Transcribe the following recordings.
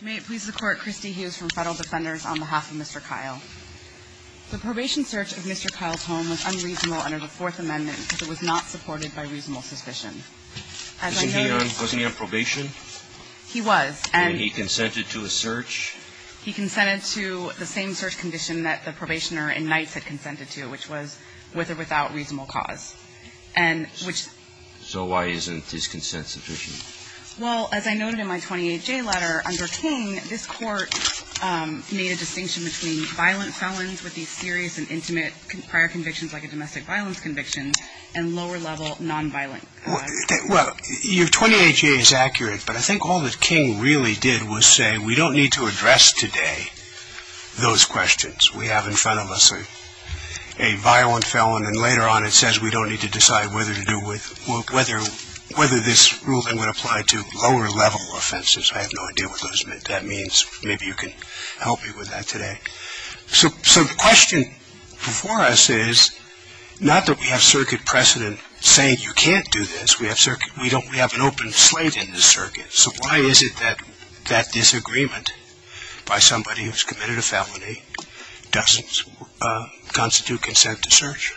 May it please the Court, Kristi Hughes from Federal Defenders on behalf of Mr. Kyle. The probation search of Mr. Kyle's home was unreasonable under the Fourth Amendment because it was not supported by reasonable suspicion. As I noted — Wasn't he on probation? He was, and — And he consented to a search? He consented to the same search condition that the probationer in Knights had consented to, which was with or without reasonable cause. And which — So why isn't his consent sufficient? Well, as I noted in my 28-J letter, under King, this Court made a distinction between violent felons with these serious and intimate prior convictions, like a domestic violence conviction, and lower-level nonviolent convictions. Well, your 28-J is accurate, but I think all that King really did was say, we don't need to address today those questions. We have in front of us a violent felon, and later on it says we don't need to decide whether to do with — whether this ruling would apply to lower-level offenses. I have no idea what those — that means maybe you can help me with that today. So the question before us is not that we have circuit precedent saying you can't do this. We have circuit — we don't — we have an open slate in this circuit. So why is it that that disagreement by somebody who's committed a felony doesn't constitute consent to search?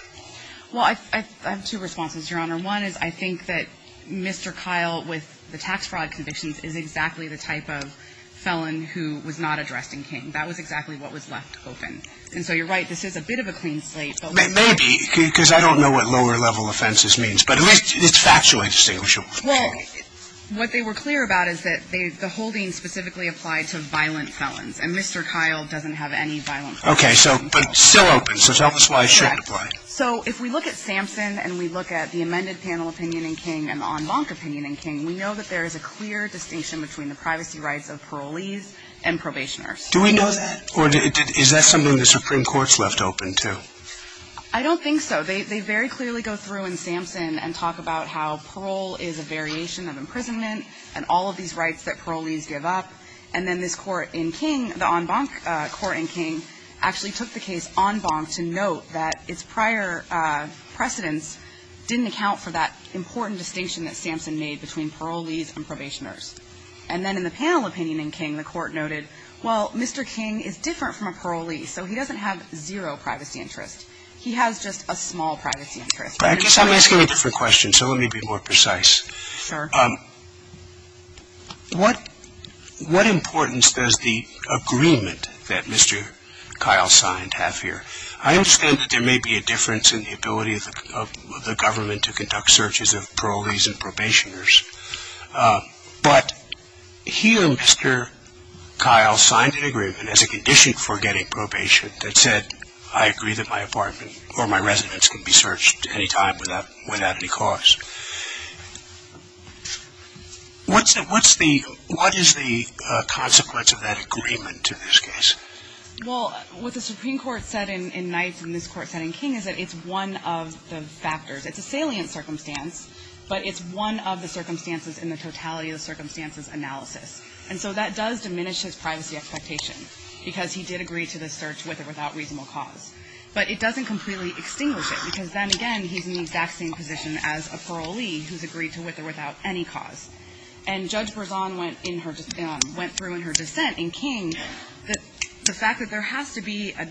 Well, I have two responses, Your Honor. One is I think that Mr. Kyle, with the tax fraud convictions, is exactly the type of felon who was not addressed in King. That was exactly what was left open. And so you're right, this is a bit of a clean slate, but we — Maybe, because I don't know what lower-level offenses means. But at least it's factually distinguishable from King. Well, what they were clear about is that they — the holding specifically applied to violent felons, and Mr. Kyle doesn't have any violent felons. Okay, so — but it's still open, so tell us why it shouldn't apply. So if we look at Sampson and we look at the amended panel opinion in King and the en banc opinion in King, we know that there is a clear distinction between the privacy rights of parolees and probationers. Do we know that? Or is that something the Supreme Court's left open to? I don't think so. They very clearly go through in Sampson and talk about how parole is a variation of imprisonment and all of these rights that parolees give up. And then this court in King, the en banc court in King, actually took the case en banc to note that its prior precedents didn't account for that important distinction that Sampson made between parolees and probationers. And then in the panel opinion in King, the court noted, well, Mr. King is different from a parolee, so he doesn't have zero privacy interest. He has just a small privacy interest. But I guess I'm asking it for questions, so let me be more precise. Sure. What — what importance does the agreement that Mr. Kyle signed have here? I understand that there may be a difference in the ability of the government to conduct searches of parolees and probationers, but he and Mr. Kyle signed an agreement as a condition for getting probation that said, I agree that my apartment or my residence can be searched any time without — without any cause. What's the — what is the consequence of that agreement in this case? Well, what the Supreme Court said in — in Knight and this court said in King is that it's one of the factors — it's a salient circumstance, but it's one of the circumstances in the totality of the circumstances analysis. And so that does diminish his privacy expectation, because he did agree to the search with or without reasonable cause. But it doesn't completely extinguish it, because then again, he's in the exact same position as a parolee who's agreed to with or without any cause. And Judge Berzon went in her — went through in her dissent in King the fact that there has to be a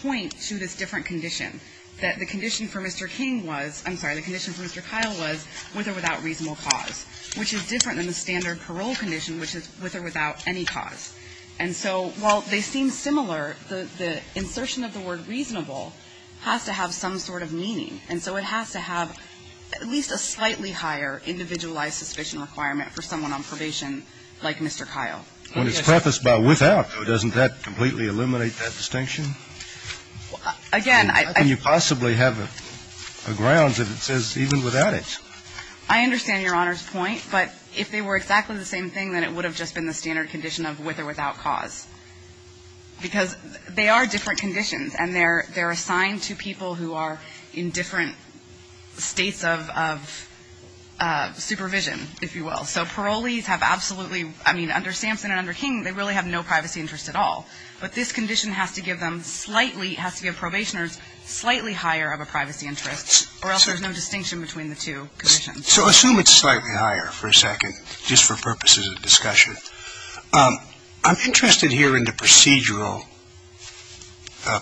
point to this different condition, that the condition for Mr. King was — I'm sorry, the condition for Mr. Kyle was with or without reasonable cause, which is different than the standard parole condition, which is with or without any cause. And so while they seem similar, the — the insertion of the word reasonable has to have some sort of meaning. And so it has to have at least a slightly higher individualized suspicion requirement for someone on probation like Mr. Kyle. And it's prefaced by without, though, doesn't that completely eliminate that distinction? Again, I — How can you possibly have a grounds if it says even without it? I understand Your Honor's point, but if they were exactly the same thing, then it would have just been the standard condition of with or without cause, because they are different conditions, and they're — they're assigned to people who are in different states of — of supervision, if you will. So parolees have absolutely — I mean, under Sampson and under King, they really have no privacy interest at all. But this condition has to give them slightly — it has to give probationers slightly higher of a privacy interest, or else there's no distinction between the two conditions. So assume it's slightly higher for a second, just for purposes of discussion. I'm interested here in the procedural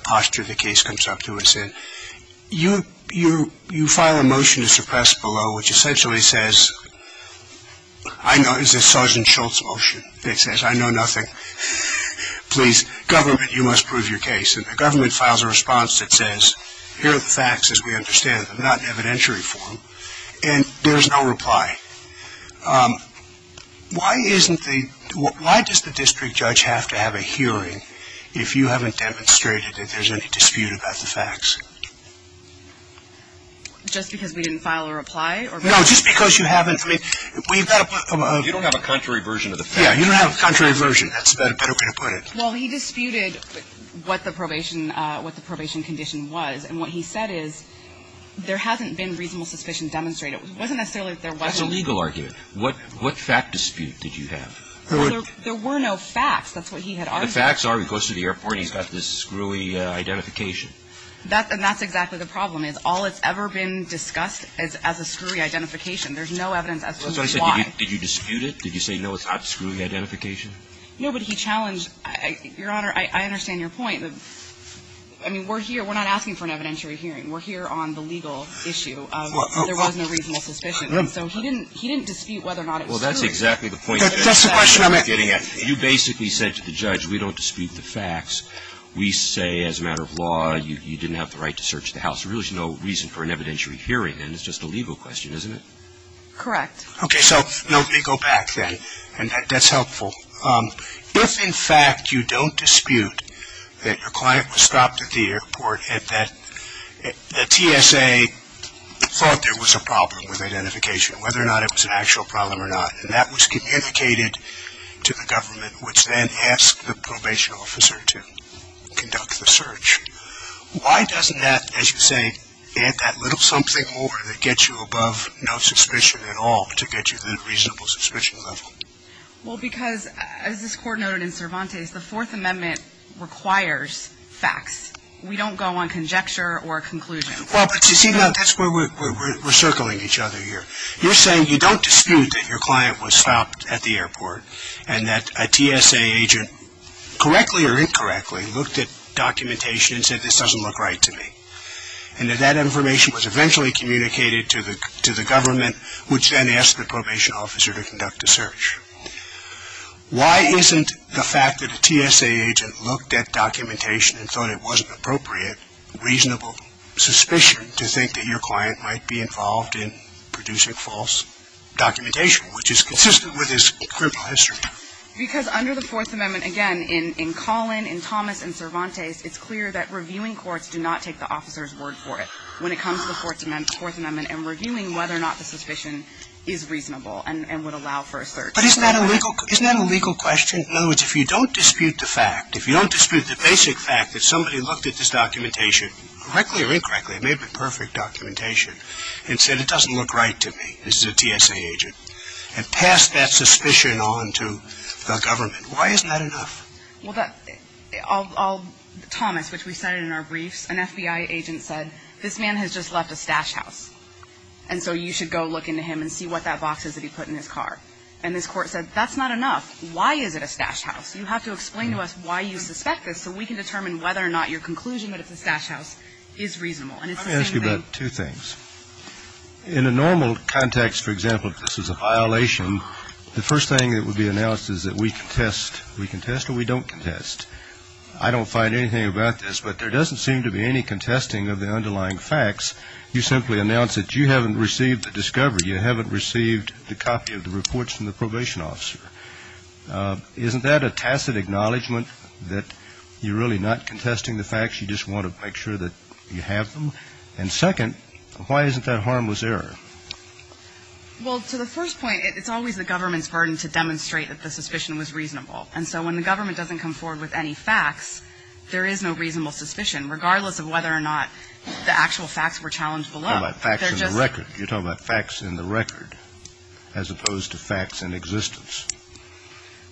posture the case comes up to us in. You — you — you file a motion to suppress below, which essentially says, I know — it's a Sergeant Schultz motion that says, I know nothing. Please, government, you must prove your case. And the government files a response that says, here are the facts as we understand them, not in evidentiary form, and there's no reply. Why isn't the — why does the district judge have to have a hearing if you haven't demonstrated that there's any dispute about the facts? Just because we didn't file a reply? No, just because you haven't — I mean, we've got to put — You don't have a contrary version of the facts. Yeah, you don't have a contrary version. That's a better way to put it. Well, he disputed what the probation — what the probation condition was. And what he said is, there hasn't been reasonable suspicion demonstrated. It wasn't necessarily that there wasn't. That's a legal argument. What — what fact dispute did you have? There were no facts. That's what he had argued. The facts are he goes to the airport and he's got this screwy identification. That — and that's exactly the problem, is all that's ever been discussed is as a screwy identification. There's no evidence as to why. That's what I said. Did you dispute it? Did you say, no, it's not a screwy identification? No, but he challenged — Your Honor, I understand your point. I mean, we're here — we're not asking for an evidentiary hearing. We're here on the legal issue of there was no reasonable suspicion. So he didn't — he didn't dispute whether or not it was true. Well, that's exactly the point. That's the question I'm getting at. You basically said to the judge, we don't dispute the facts. We say, as a matter of law, you didn't have the right to search the house. There really is no reason for an evidentiary hearing, and it's just a legal question, isn't it? Correct. Okay, so let me go back then, and that's helpful. If, in fact, you don't dispute that your client was stopped at the airport and that the TSA thought there was a problem with identification, whether or not it was an actual problem or not, and that was communicated to the government, which then asked the probation officer to conduct the search, why doesn't that, as you say, add that little something more that gets you above no suspicion at all to get you to the reasonable suspicion level? Well, because, as this court noted in Cervantes, the Fourth Amendment requires facts. We don't go on conjecture or conclusion. Well, but you see, that's where we're circling each other here. You're saying you don't dispute that your client was stopped at the airport and that a TSA agent, correctly or incorrectly, looked at documentation and said, this doesn't look right to me, and that that information was eventually communicated to the government, which then asked the probation officer to conduct a search. Why isn't the fact that a TSA agent looked at documentation and thought it wasn't appropriate, reasonable suspicion, to think that your client might be involved in producing false documentation, which is consistent with his criminal history? Because under the Fourth Amendment, again, in Collin, in Thomas, in Cervantes, it's clear that reviewing courts do not take the officer's word for it. When it comes to the Fourth Amendment, and reviewing whether or not the suspicion is reasonable and would allow for a search. But isn't that a legal question? In other words, if you don't dispute the fact, if you don't dispute the basic fact that somebody looked at this documentation, correctly or incorrectly, it may have been perfect documentation, and said, it doesn't look right to me, this is a TSA agent, and passed that suspicion on to the government, why isn't that enough? Well, Thomas, which we cited in our briefs, an FBI agent said, this man has just left a stash house, and so you should go look into him and see what that box is that he put in his car. And this court said, that's not enough. Why is it a stash house? You have to explain to us why you suspect this, so we can determine whether or not your conclusion that it's a stash house is reasonable. And it's the same thing. I'm going to ask you about two things. In a normal context, for example, if this is a violation, the first thing that would be announced is that we contest. We contest or we don't contest. I don't find anything about this, but there doesn't seem to be any contesting of the underlying facts. You simply announce that you haven't received the discovery, you haven't received the copy of the reports from the probation officer. Isn't that a tacit acknowledgment that you're really not contesting the facts, you just want to make sure that you have them? And second, why isn't that harmless error? Well, to the first point, it's always the government's burden to demonstrate that the suspicion was reasonable. And so when the government doesn't come forward with any facts, there is no reasonable suspicion, regardless of whether or not the actual facts were challenged below. You're talking about facts in the record, as opposed to facts in existence.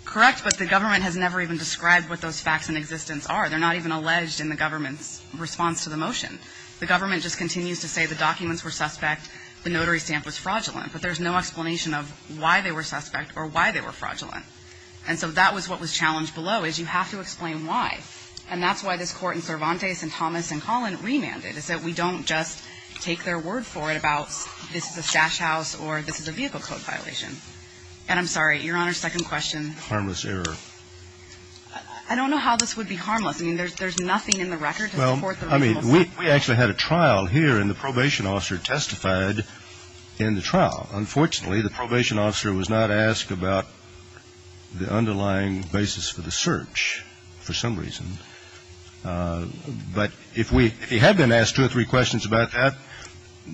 Correct, but the government has never even described what those facts in existence are. They're not even alleged in the government's response to the motion. The government just continues to say the documents were suspect, the notary stamp was fraudulent. But there's no explanation of why they were suspect or why they were fraudulent. And so that was what was challenged below, is you have to explain why. And that's why this Court in Cervantes and Thomas and Collin remanded, is that we don't just take their word for it about this is a stash house or this is a vehicle code violation. And I'm sorry, Your Honor, second question. Harmless error. I don't know how this would be harmless. I mean, there's nothing in the record to support the reasonable suspicion. Well, I mean, we actually had a trial here, and the probation officer testified in the trial. Unfortunately, the probation officer was not asked about the underlying basis for the search for some reason. But if we had been asked two or three questions about that,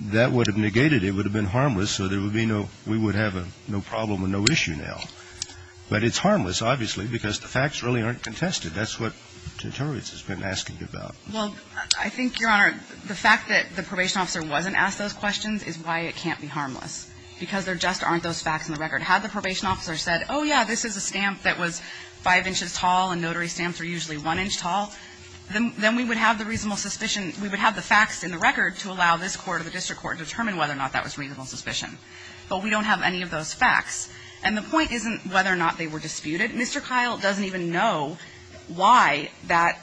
that would have negated it, it would have been harmless, so there would be no, we would have no problem or no issue now. But it's harmless, obviously, because the facts really aren't contested. That's what deterrence has been asking about. Well, I think, Your Honor, the fact that the probation officer wasn't asked those questions because there just aren't those facts in the record. Had the probation officer said, oh, yeah, this is a stamp that was 5 inches tall and notary stamps are usually 1 inch tall, then we would have the reasonable suspicion, we would have the facts in the record to allow this court or the district court to determine whether or not that was reasonable suspicion. But we don't have any of those facts. And the point isn't whether or not they were disputed. Mr. Kyle doesn't even know why that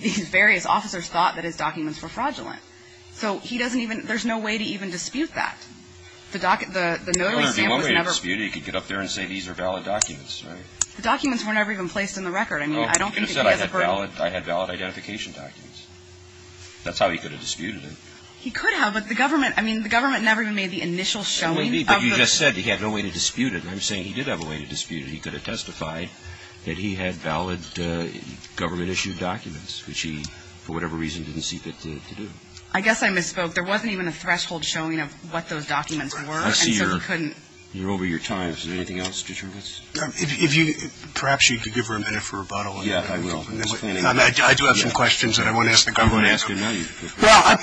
these various officers thought that his documents were fraudulent. So he doesn't even, there's no way to even dispute that. The notary stamp was never ---- Your Honor, the only way to dispute it, you could get up there and say these are valid documents, right? The documents were never even placed in the record. I mean, I don't think that he has a ---- Well, you could have said I had valid identification documents. That's how he could have disputed it. He could have, but the government, I mean, the government never even made the initial showing of the ---- But you just said he had no way to dispute it. And I'm saying he did have a way to dispute it. He could have testified that he had valid government-issued documents, which he, for whatever reason, didn't see fit to do. I guess I misspoke. There wasn't even a threshold showing of what those documents were, and so he couldn't ---- I see you're over your time. Is there anything else? Perhaps you could give her a minute for rebuttal. Yeah, I will. I do have some questions that I want to ask the government. I'm going to ask it now. Well,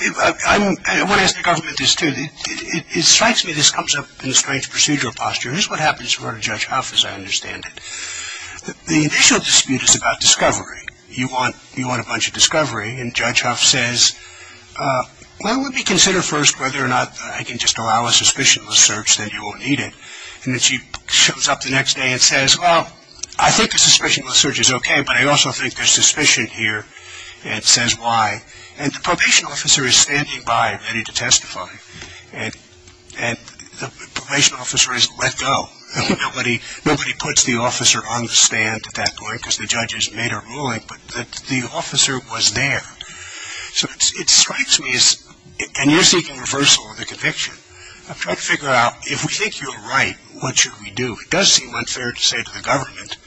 I want to ask the government this, too. It strikes me this comes up in a strange procedural posture. This is what happens in court of Judge Huff, as I understand it. The initial dispute is about discovery. You want a bunch of discovery, and Judge Huff says, well, let me consider first whether or not I can just allow a suspicionless search, then you won't need it. And then she shows up the next day and says, well, I think a suspicionless search is okay, but I also think there's suspicion here, and says why. And the probation officer is standing by ready to testify, and the probation officer is let go. Nobody puts the officer on the stand at that point because the judge has made a ruling, but the officer was there. So it strikes me, and you're seeking reversal of the conviction. I'm trying to figure out if we think you're right, what should we do? It does seem unfair to say to the government,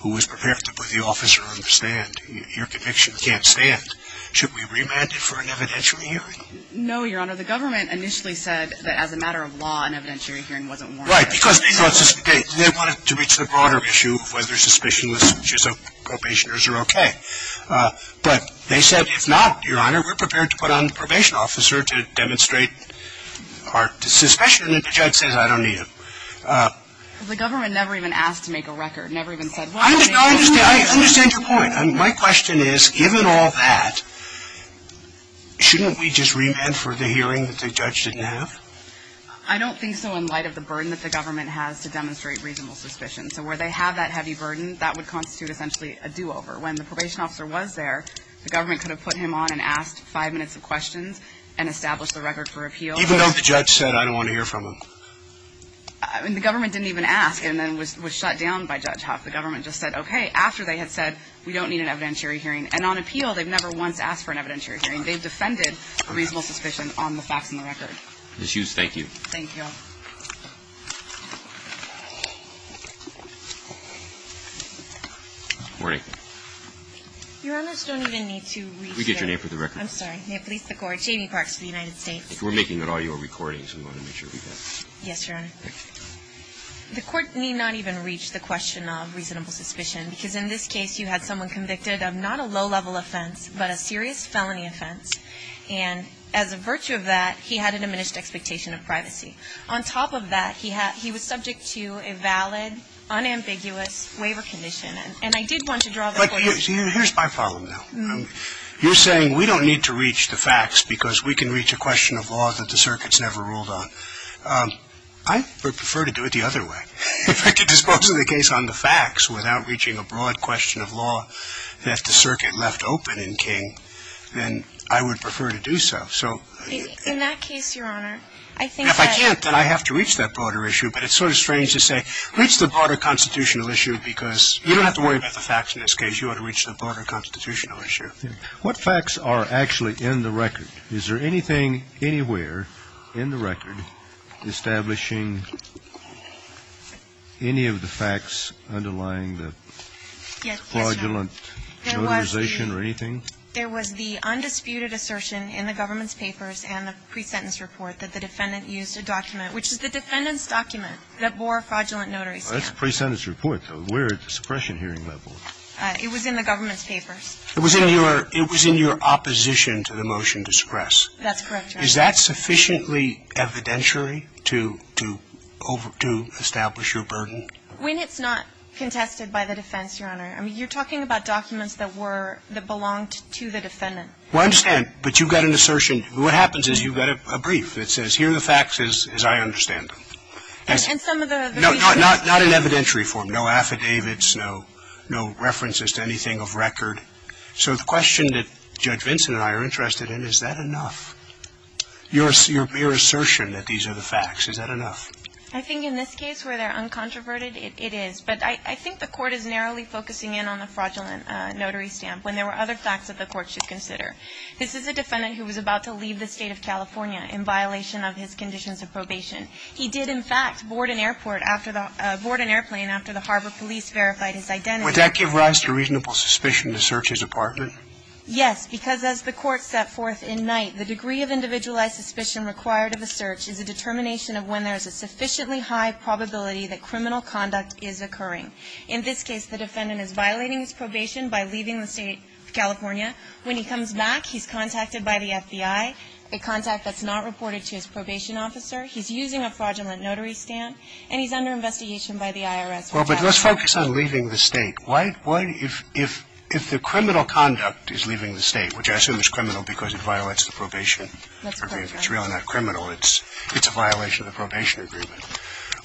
who was prepared to put the officer on the stand, your conviction can't stand. Should we remand it for an evidentiary hearing? No, Your Honor, the government initially said that as a matter of law, an evidentiary hearing wasn't warranted. Right, because they wanted to reach the broader issue of whether suspicionless searches of probationers are okay. But they said, if not, Your Honor, we're prepared to put on the probation officer to demonstrate our suspicion, and the judge says I don't need it. Well, the government never even asked to make a record, never even said, well, I understand your point. My question is, given all that, shouldn't we just remand for the hearing that the judge didn't have? I don't think so in light of the burden that the government has to demonstrate reasonable suspicion. So where they have that heavy burden, that would constitute essentially a do-over. When the probation officer was there, the government could have put him on and asked five minutes of questions and established the record for appeal. Even though the judge said, I don't want to hear from him. I mean, the government didn't even ask, and then was shut down by Judge Hoff. The government just said, okay. After they had said, we don't need an evidentiary hearing. And on appeal, they've never once asked for an evidentiary hearing. They've defended reasonable suspicion on the facts and the record. Ms. Hughes, thank you. Thank you, Your Honor. Morning. Your Honors, we don't even need to reach the court. We get your name for the record. I'm sorry. May it please the Court. Jamie Parks of the United States. We're making an audio recording, so we want to make sure we get it. Yes, Your Honor. The Court need not even reach the question of reasonable suspicion, because in this case, you had someone convicted of not a low-level offense, but a serious felony offense. And as a virtue of that, he had a diminished expectation of privacy. On top of that, he was subject to a valid, unambiguous waiver condition. And I did want to draw the court's attention. Here's my problem, though. You're saying we don't need to reach the facts because we can reach a question of law that the circuit's never ruled on. I would prefer to do it the other way. If I could dispose of the case on the facts without reaching a broad question of law that the circuit left open in King, then I would prefer to do so. In that case, Your Honor, I think that I can't, that I have to reach that broader issue. But it's sort of strange to say, reach the broader constitutional issue, because you don't have to worry about the facts in this case. You ought to reach the broader constitutional issue. What facts are actually in the record? Is there anything anywhere in the record establishing any of the facts underlying the fraudulent notarization or anything? There was the undisputed assertion in the government's papers and the pre-sentence report that the defendant used a document, which is the defendant's document, that bore fraudulent notarization. That's a pre-sentence report, though. Where is the suppression hearing level? It was in the government's papers. It was in your opposition to the motion to stress. That's correct, Your Honor. Is that sufficiently evidentiary to establish your burden? When it's not contested by the defense, Your Honor. I mean, you're talking about documents that were, that belonged to the defendant. Well, I understand. But you've got an assertion. What happens is you've got a brief that says, here are the facts as I understand them. And some of the reasons? No, not in evidentiary form. No affidavits, no references to anything of record. So the question that Judge Vincent and I are interested in, is that enough? Your assertion that these are the facts, is that enough? I think in this case where they're uncontroverted, it is. But I think the Court is narrowly focusing in on the fraudulent notary stamp when there were other facts that the Court should consider. This is a defendant who was about to leave the State of California in violation of his conditions of probation. He did, in fact, board an airport after the, board an airplane after the harbor police verified his identity. Would that give rise to reasonable suspicion to search his apartment? Yes, because as the Court set forth in Knight, the degree of individualized suspicion required of a search is a determination of when there is a sufficiently high probability that criminal conduct is occurring. In this case, the defendant is violating his probation by leaving the State of California when he comes back, he's contacted by the FBI, a contact that's not reported to his probation officer. He's using a fraudulent notary stamp, and he's under investigation by the IRS. Well, but let's focus on leaving the State. Why, if the criminal conduct is leaving the State, which I assume is criminal because it violates the probation agreement. It's really not criminal. It's a violation of the probation agreement.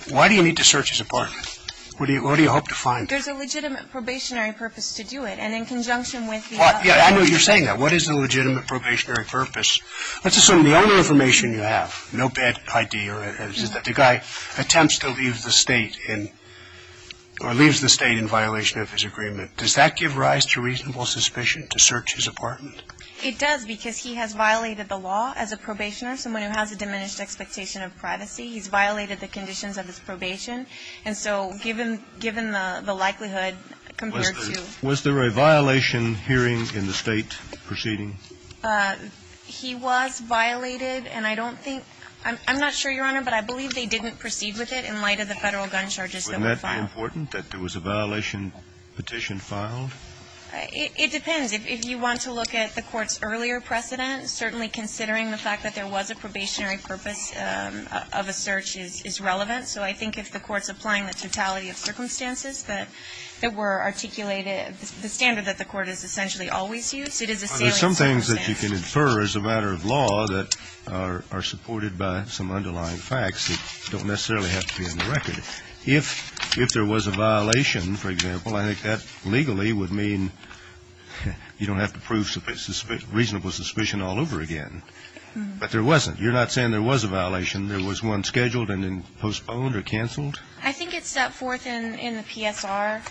Why do you need to search his apartment? What do you hope to find? There's a legitimate probationary purpose to do it, and in conjunction with the legitimate probationary purpose, there's a legitimate probationary purpose to do it. So you're saying that. What is the legitimate probationary purpose? Let's assume the only information you have, no bad ID, or the guy attempts to leave the State in or leaves the State in violation of his agreement. Does that give rise to reasonable suspicion to search his apartment? It does, because he has violated the law as a probationer, someone who has a diminished expectation of privacy. He's violated the conditions of his probation. And so given the likelihood compared to the State. Was there a violation hearing in the State proceeding? He was violated, and I don't think – I'm not sure, Your Honor, but I believe they didn't proceed with it in light of the Federal gun charges that were filed. Wouldn't that be important, that there was a violation petition filed? It depends. If you want to look at the Court's earlier precedent, certainly considering the fact that there was a probationary purpose of a search is relevant. So I think if the Court's applying the totality of circumstances that were articulated – the standard that the Court has essentially always used, it is a salient circumstance. There are some things that you can infer as a matter of law that are supported by some underlying facts that don't necessarily have to be in the record. If there was a violation, for example, I think that legally would mean you don't have to prove reasonable suspicion all over again. You're not saying there was a violation. There was one scheduled and then postponed or canceled? I think it's set forth in the PSR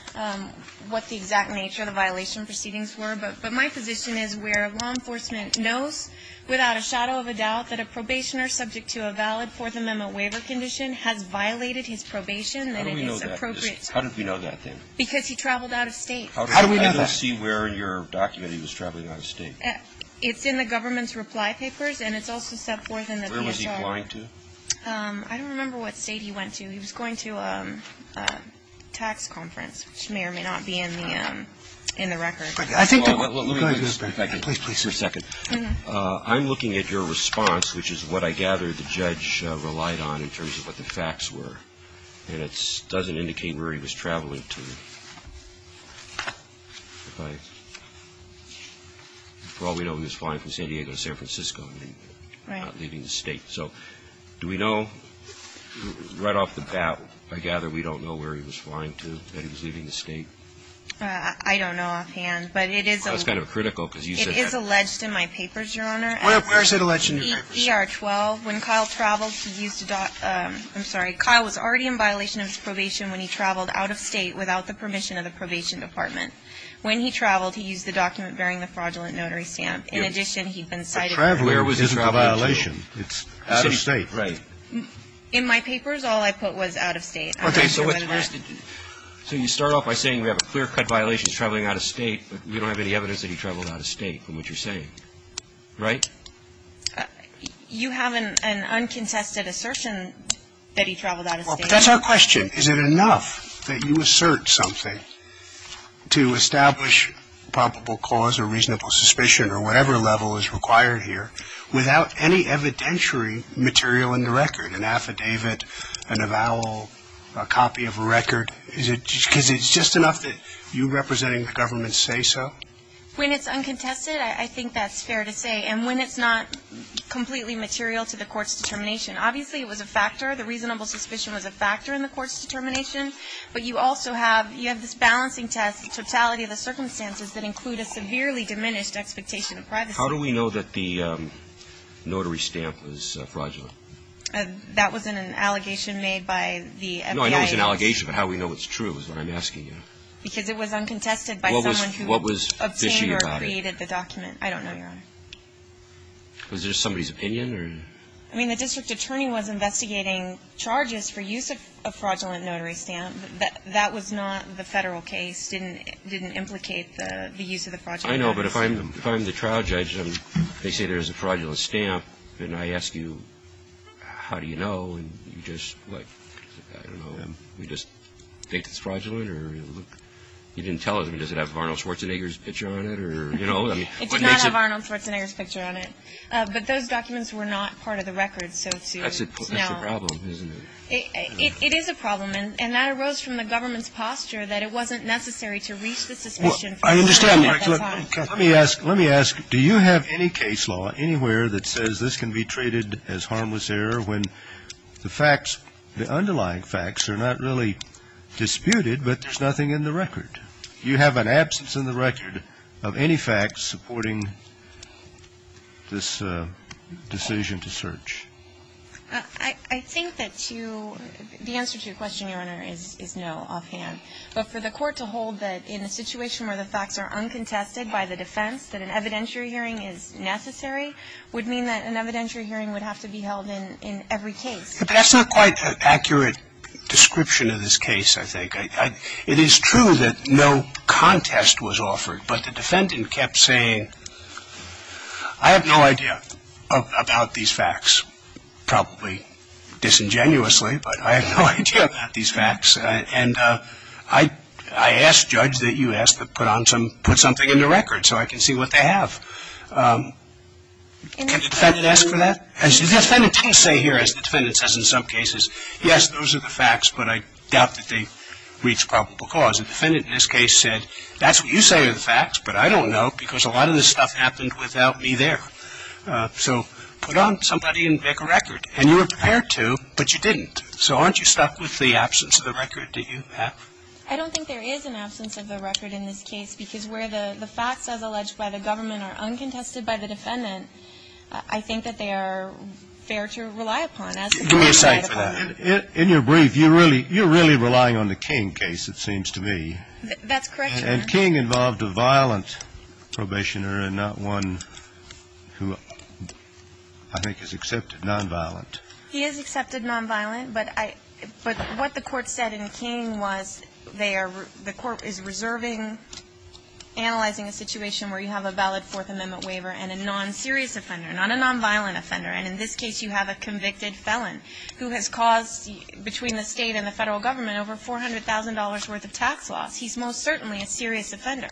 what the exact nature of the violation proceedings were. But my position is where law enforcement knows without a shadow of a doubt that a probationer subject to a valid Fourth Amendment waiver condition has violated his probation, then it is appropriate to – How do we know that? How did we know that then? Because he traveled out of State. How do we know that? I don't see where in your document he was traveling out of State. It's in the government's reply papers, and it's also set forth in the PSR. Where was he flying to? I don't remember what State he went to. He was going to a tax conference, which may or may not be in the record. I think the – Go ahead. Please, please. I'm looking at your response, which is what I gather the judge relied on in terms of what the facts were. And it doesn't indicate where he was traveling to. If I – for all we know, he was flying from San Diego to San Francisco. Right. He was not leaving the State. So do we know? Right off the bat, I gather we don't know where he was flying to, that he was leaving the State. I don't know offhand, but it is a – That's kind of critical, because you said that – It is alleged in my papers, Your Honor. Where is it alleged in your papers? ER-12. When Kyle traveled, he used a – I'm sorry. Kyle was already in violation of his probation when he traveled out of State without the permission of the Probation Department. When he traveled, he used the document bearing the fraudulent notary stamp. In addition, he'd been cited – So where was he traveling to? Traveling isn't a violation. It's out of State. Right. In my papers, all I put was out of State. I'm not sure what it meant. Okay. So you start off by saying we have a clear-cut violation, he's traveling out of State, but we don't have any evidence that he traveled out of State from what you're saying. Right? You have an uncontested assertion that he traveled out of State. Well, but that's our question. Is it enough that you assert something to establish probable cause or reasonable suspicion or whatever level is required here without any evidentiary material in the record, an affidavit, an avowal, a copy of a record? Is it – because it's just enough that you representing the government say so? When it's uncontested, I think that's fair to say. And when it's not completely material to the court's determination. Obviously, it was a factor. The reasonable suspicion was a factor in the court's determination. But you also have – you have this balancing test, the totality of the circumstances that include a severely diminished expectation of privacy. How do we know that the notary stamp was fraudulent? That wasn't an allegation made by the FBI. No, I know it was an allegation, but how we know it's true is what I'm asking you. Because it was uncontested by someone who obtained or created the document. I don't know, Your Honor. Was it just somebody's opinion or? I mean, the district attorney was investigating charges for use of a fraudulent notary stamp. That was not the Federal case. It didn't implicate the use of the fraudulent notary stamp. I know, but if I'm the trial judge and they say there's a fraudulent stamp, then I ask you, how do you know? And you just, like, I don't know, you just think it's fraudulent? You didn't tell us. Does it have Arnold Schwarzenegger's picture on it? It does not have Arnold Schwarzenegger's picture on it. But those documents were not part of the record, so to know. That's a problem, isn't it? It is a problem. And that arose from the government's posture that it wasn't necessary to reach the suspicion. I understand that. Let me ask. Let me ask. Do you have any case law anywhere that says this can be treated as harmless error when the facts, the underlying facts are not really disputed but there's nothing in the record? Do you have an absence in the record of any facts supporting this decision to search? I think that you, the answer to your question, Your Honor, is no offhand. But for the court to hold that in a situation where the facts are uncontested by the defense that an evidentiary hearing is necessary would mean that an evidentiary hearing would have to be held in every case. But that's not quite an accurate description of this case, I think. It is true that no contest was offered, but the defendant kept saying, I have no idea about these facts. Probably disingenuously, but I have no idea about these facts. And I asked Judge that you ask to put something in the record so I can see what they have. Can the defendant ask for that? And the defendant didn't say here, as the defendant says in some cases, yes, those are the facts, but I doubt that they reach probable cause. The defendant in this case said, that's what you say are the facts, but I don't know because a lot of this stuff happened without me there. So put on somebody and make a record. And you were prepared to, but you didn't. So aren't you stuck with the absence of the record that you have? I don't think there is an absence of the record in this case because where the facts, as alleged by the government, are uncontested by the defendant, I think that they are fair to rely upon. Do me a favor. In your brief, you're really relying on the King case, it seems to me. That's correct, Your Honor. And King involved a violent probationer and not one who I think is accepted, nonviolent. He is accepted nonviolent, but what the Court said in King was they are, the Court is reserving, analyzing a situation where you have a valid Fourth Amendment waiver and a non-serious offender, not a nonviolent offender. And in this case, you have a convicted felon who has caused, between the State and the Federal Government, over $400,000 worth of tax loss. He's most certainly a serious offender.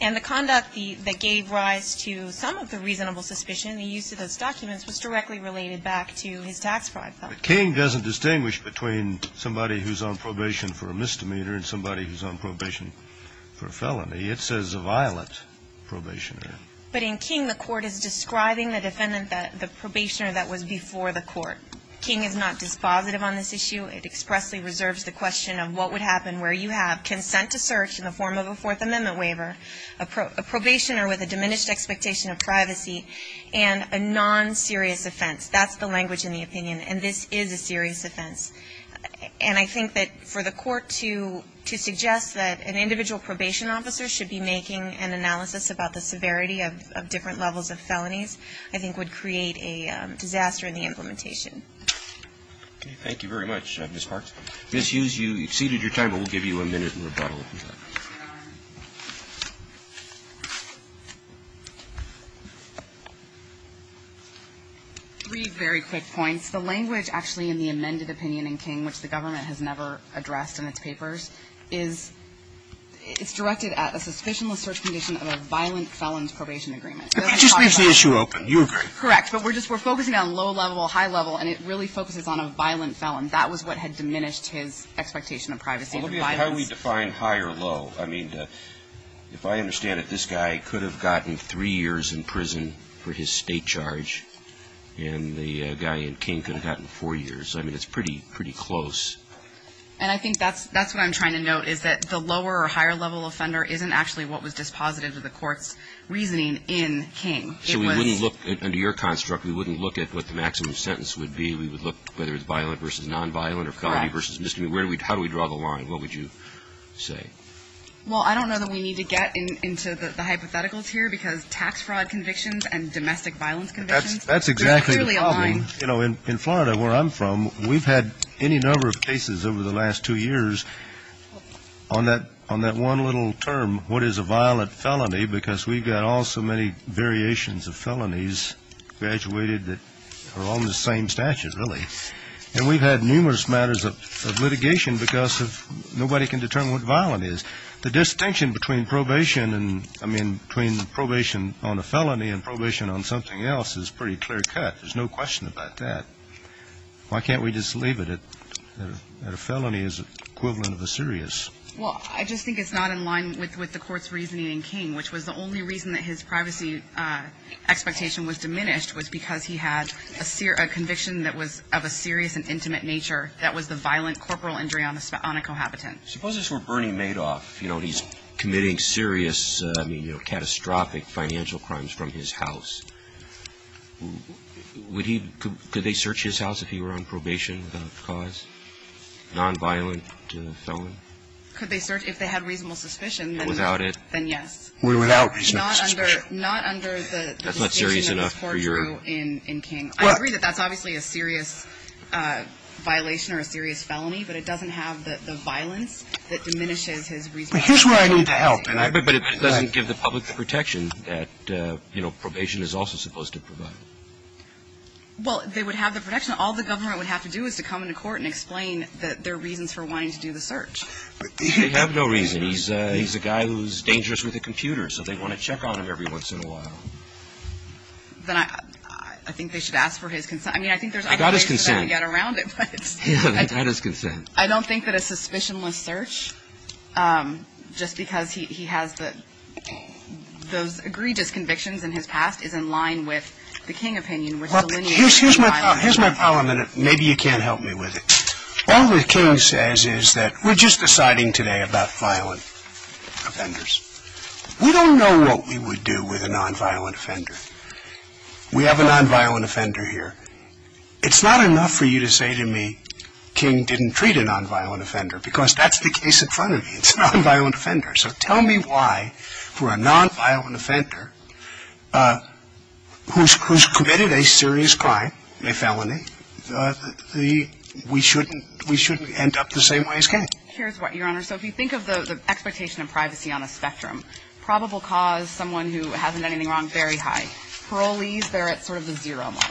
And the conduct that gave rise to some of the reasonable suspicion, the use of those documents, was directly related back to his tax fraud felon. But King doesn't distinguish between somebody who's on probation for a misdemeanor and somebody who's on probation for a felony. It says a violent probationer. But in King, the Court is describing the defendant, the probationer that was before the Court. King is not dispositive on this issue. It expressly reserves the question of what would happen where you have consent to search in the form of a Fourth Amendment waiver, a probationer with a diminished expectation of privacy, and a non-serious offense. That's the language in the opinion. And this is a serious offense. And I think that for the Court to suggest that an individual probation officer should be making an analysis about the severity of different levels of felonies, I think would create a disaster in the implementation. Thank you very much, Ms. Parks. Ms. Hughes, you exceeded your time, but we'll give you a minute and rebuttal if you'd like. Three very quick points. The language actually in the amended opinion in King, which the government has never addressed in its papers, is it's directed at a suspicionless search condition of a violent felon's probation agreement. It just leaves the issue open. You agree. Correct. But we're just we're focusing on low level, high level, and it really focuses on a violent felon. That was what had diminished his expectation of privacy. How do we define high or low? I mean, if I understand it, this guy could have gotten three years in prison for his state charge, and the guy in King could have gotten four years. I mean, it's pretty close. And I think that's what I'm trying to note, is that the lower or higher level offender isn't actually what was dispositive of the Court's reasoning in King. So we wouldn't look, under your construct, we wouldn't look at what the maximum sentence would be. We would look whether it's violent versus nonviolent or felony versus misdemeanor. How do we draw the line? What would you say? Well, I don't know that we need to get into the hypotheticals here, because tax fraud convictions and domestic violence convictions, there's clearly a line. That's exactly the problem. You know, in Florida, where I'm from, we've had any number of cases over the last two years on that one little term, what is a violent felony, because we've got all so many variations of felonies graduated that are on the same statute, really. And we've had numerous matters of litigation because nobody can determine what violent is. The distinction between probation and, I mean, between probation on a felony and probation on something else is pretty clear-cut. There's no question about that. Why can't we just leave it at a felony is equivalent of a serious? Well, I just think it's not in line with the Court's reasoning in King, which was the only reason that his privacy expectation was diminished was because he had a conviction that was of a serious and intimate nature that was the violent corporal injury on a cohabitant. Suppose this were Bernie Madoff. You know, he's committing serious, I mean, you know, catastrophic financial crimes from his house. Would he – could they search his house if he were on probation without cause, nonviolent felon? Could they search – if they had reasonable suspicion, then yes. Well, without reasonable suspicion. Not under the distinction that this Court drew in King. I agree that that's obviously a serious violation or a serious felony, but it doesn't have the violence that diminishes his reasonable suspicion. But here's where I need to help. But it doesn't give the public the protection that, you know, probation is also supposed to provide. Well, they would have the protection. All the government would have to do is to come into court and explain that there are reasons for wanting to do the search. They have no reason. And he's a guy who's dangerous with a computer, so they want to check on him every once in a while. Then I think they should ask for his consent. I mean, I think there's other ways to get around it. I got his consent. Yeah, I got his consent. I don't think that a suspicionless search, just because he has those egregious convictions in his past, is in line with the King opinion, which delineates the violence. Here's my problem. Maybe you can't help me with it. All the King says is that we're just deciding today about violent offenders. We don't know what we would do with a nonviolent offender. We have a nonviolent offender here. It's not enough for you to say to me, King didn't treat a nonviolent offender, because that's the case in front of you. It's a nonviolent offender. So tell me why, for a nonviolent offender who's committed a serious crime, a felony, that we shouldn't end up the same way as King? Here's why, Your Honor. So if you think of the expectation of privacy on a spectrum, probable cause, someone who hasn't done anything wrong, very high. Parolees, they're at sort of the zero mark.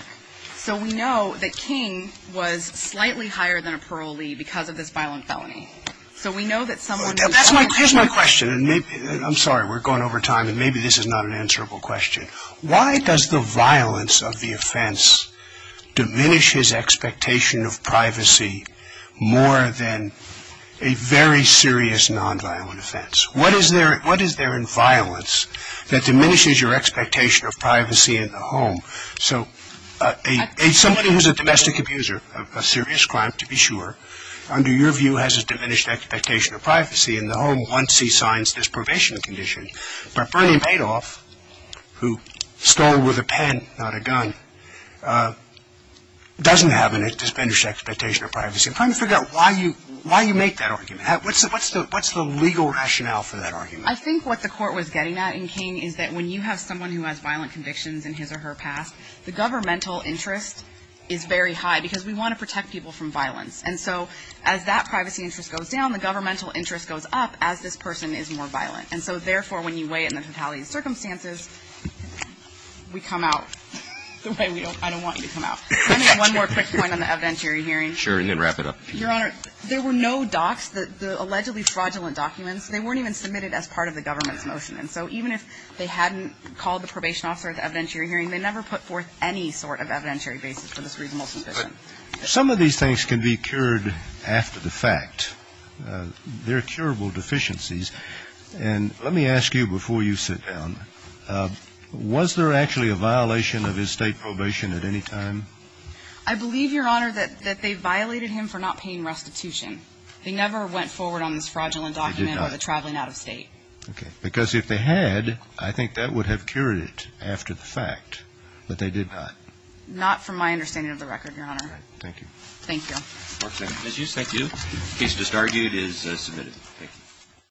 So we know that King was slightly higher than a parolee because of this violent felony. So we know that someone who's a nonviolent offender. Here's my question. I'm sorry. We're going over time, and maybe this is not an answerable question. Why does the violence of the offense diminish his expectation of privacy more than a very serious nonviolent offense? What is there in violence that diminishes your expectation of privacy in the home? So somebody who's a domestic abuser of a serious crime, to be sure, under your view, has a diminished expectation of privacy in the home once he signs this probation condition. But Bernie Padoff, who stole with a pen, not a gun, doesn't have a diminished expectation of privacy. I'm trying to figure out why you make that argument. What's the legal rationale for that argument? I think what the court was getting at in King is that when you have someone who has violent convictions in his or her past, the governmental interest is very high because we want to protect people from violence. And so as that privacy interest goes down, the governmental interest goes up as this person is more violent. And so, therefore, when you weigh it in the totality of circumstances, we come out the way we don't – I don't want you to come out. Let me make one more quick point on the evidentiary hearing. Sure, and then wrap it up. Your Honor, there were no docs, the allegedly fraudulent documents. They weren't even submitted as part of the government's motion. And so even if they hadn't called the probation officer at the evidentiary hearing, they never put forth any sort of evidentiary basis for this reasonable suspicion. Some of these things can be cured after the fact. They're curable deficiencies. And let me ask you before you sit down, was there actually a violation of his State probation at any time? I believe, Your Honor, that they violated him for not paying restitution. They never went forward on this fraudulent document or the traveling out of State. Okay. Because if they had, I think that would have cured it after the fact. But they did not. Not from my understanding of the record, Your Honor. All right. Thank you. Thank you. Court is adjourned. Thank you. The case just argued is submitted. Thank you.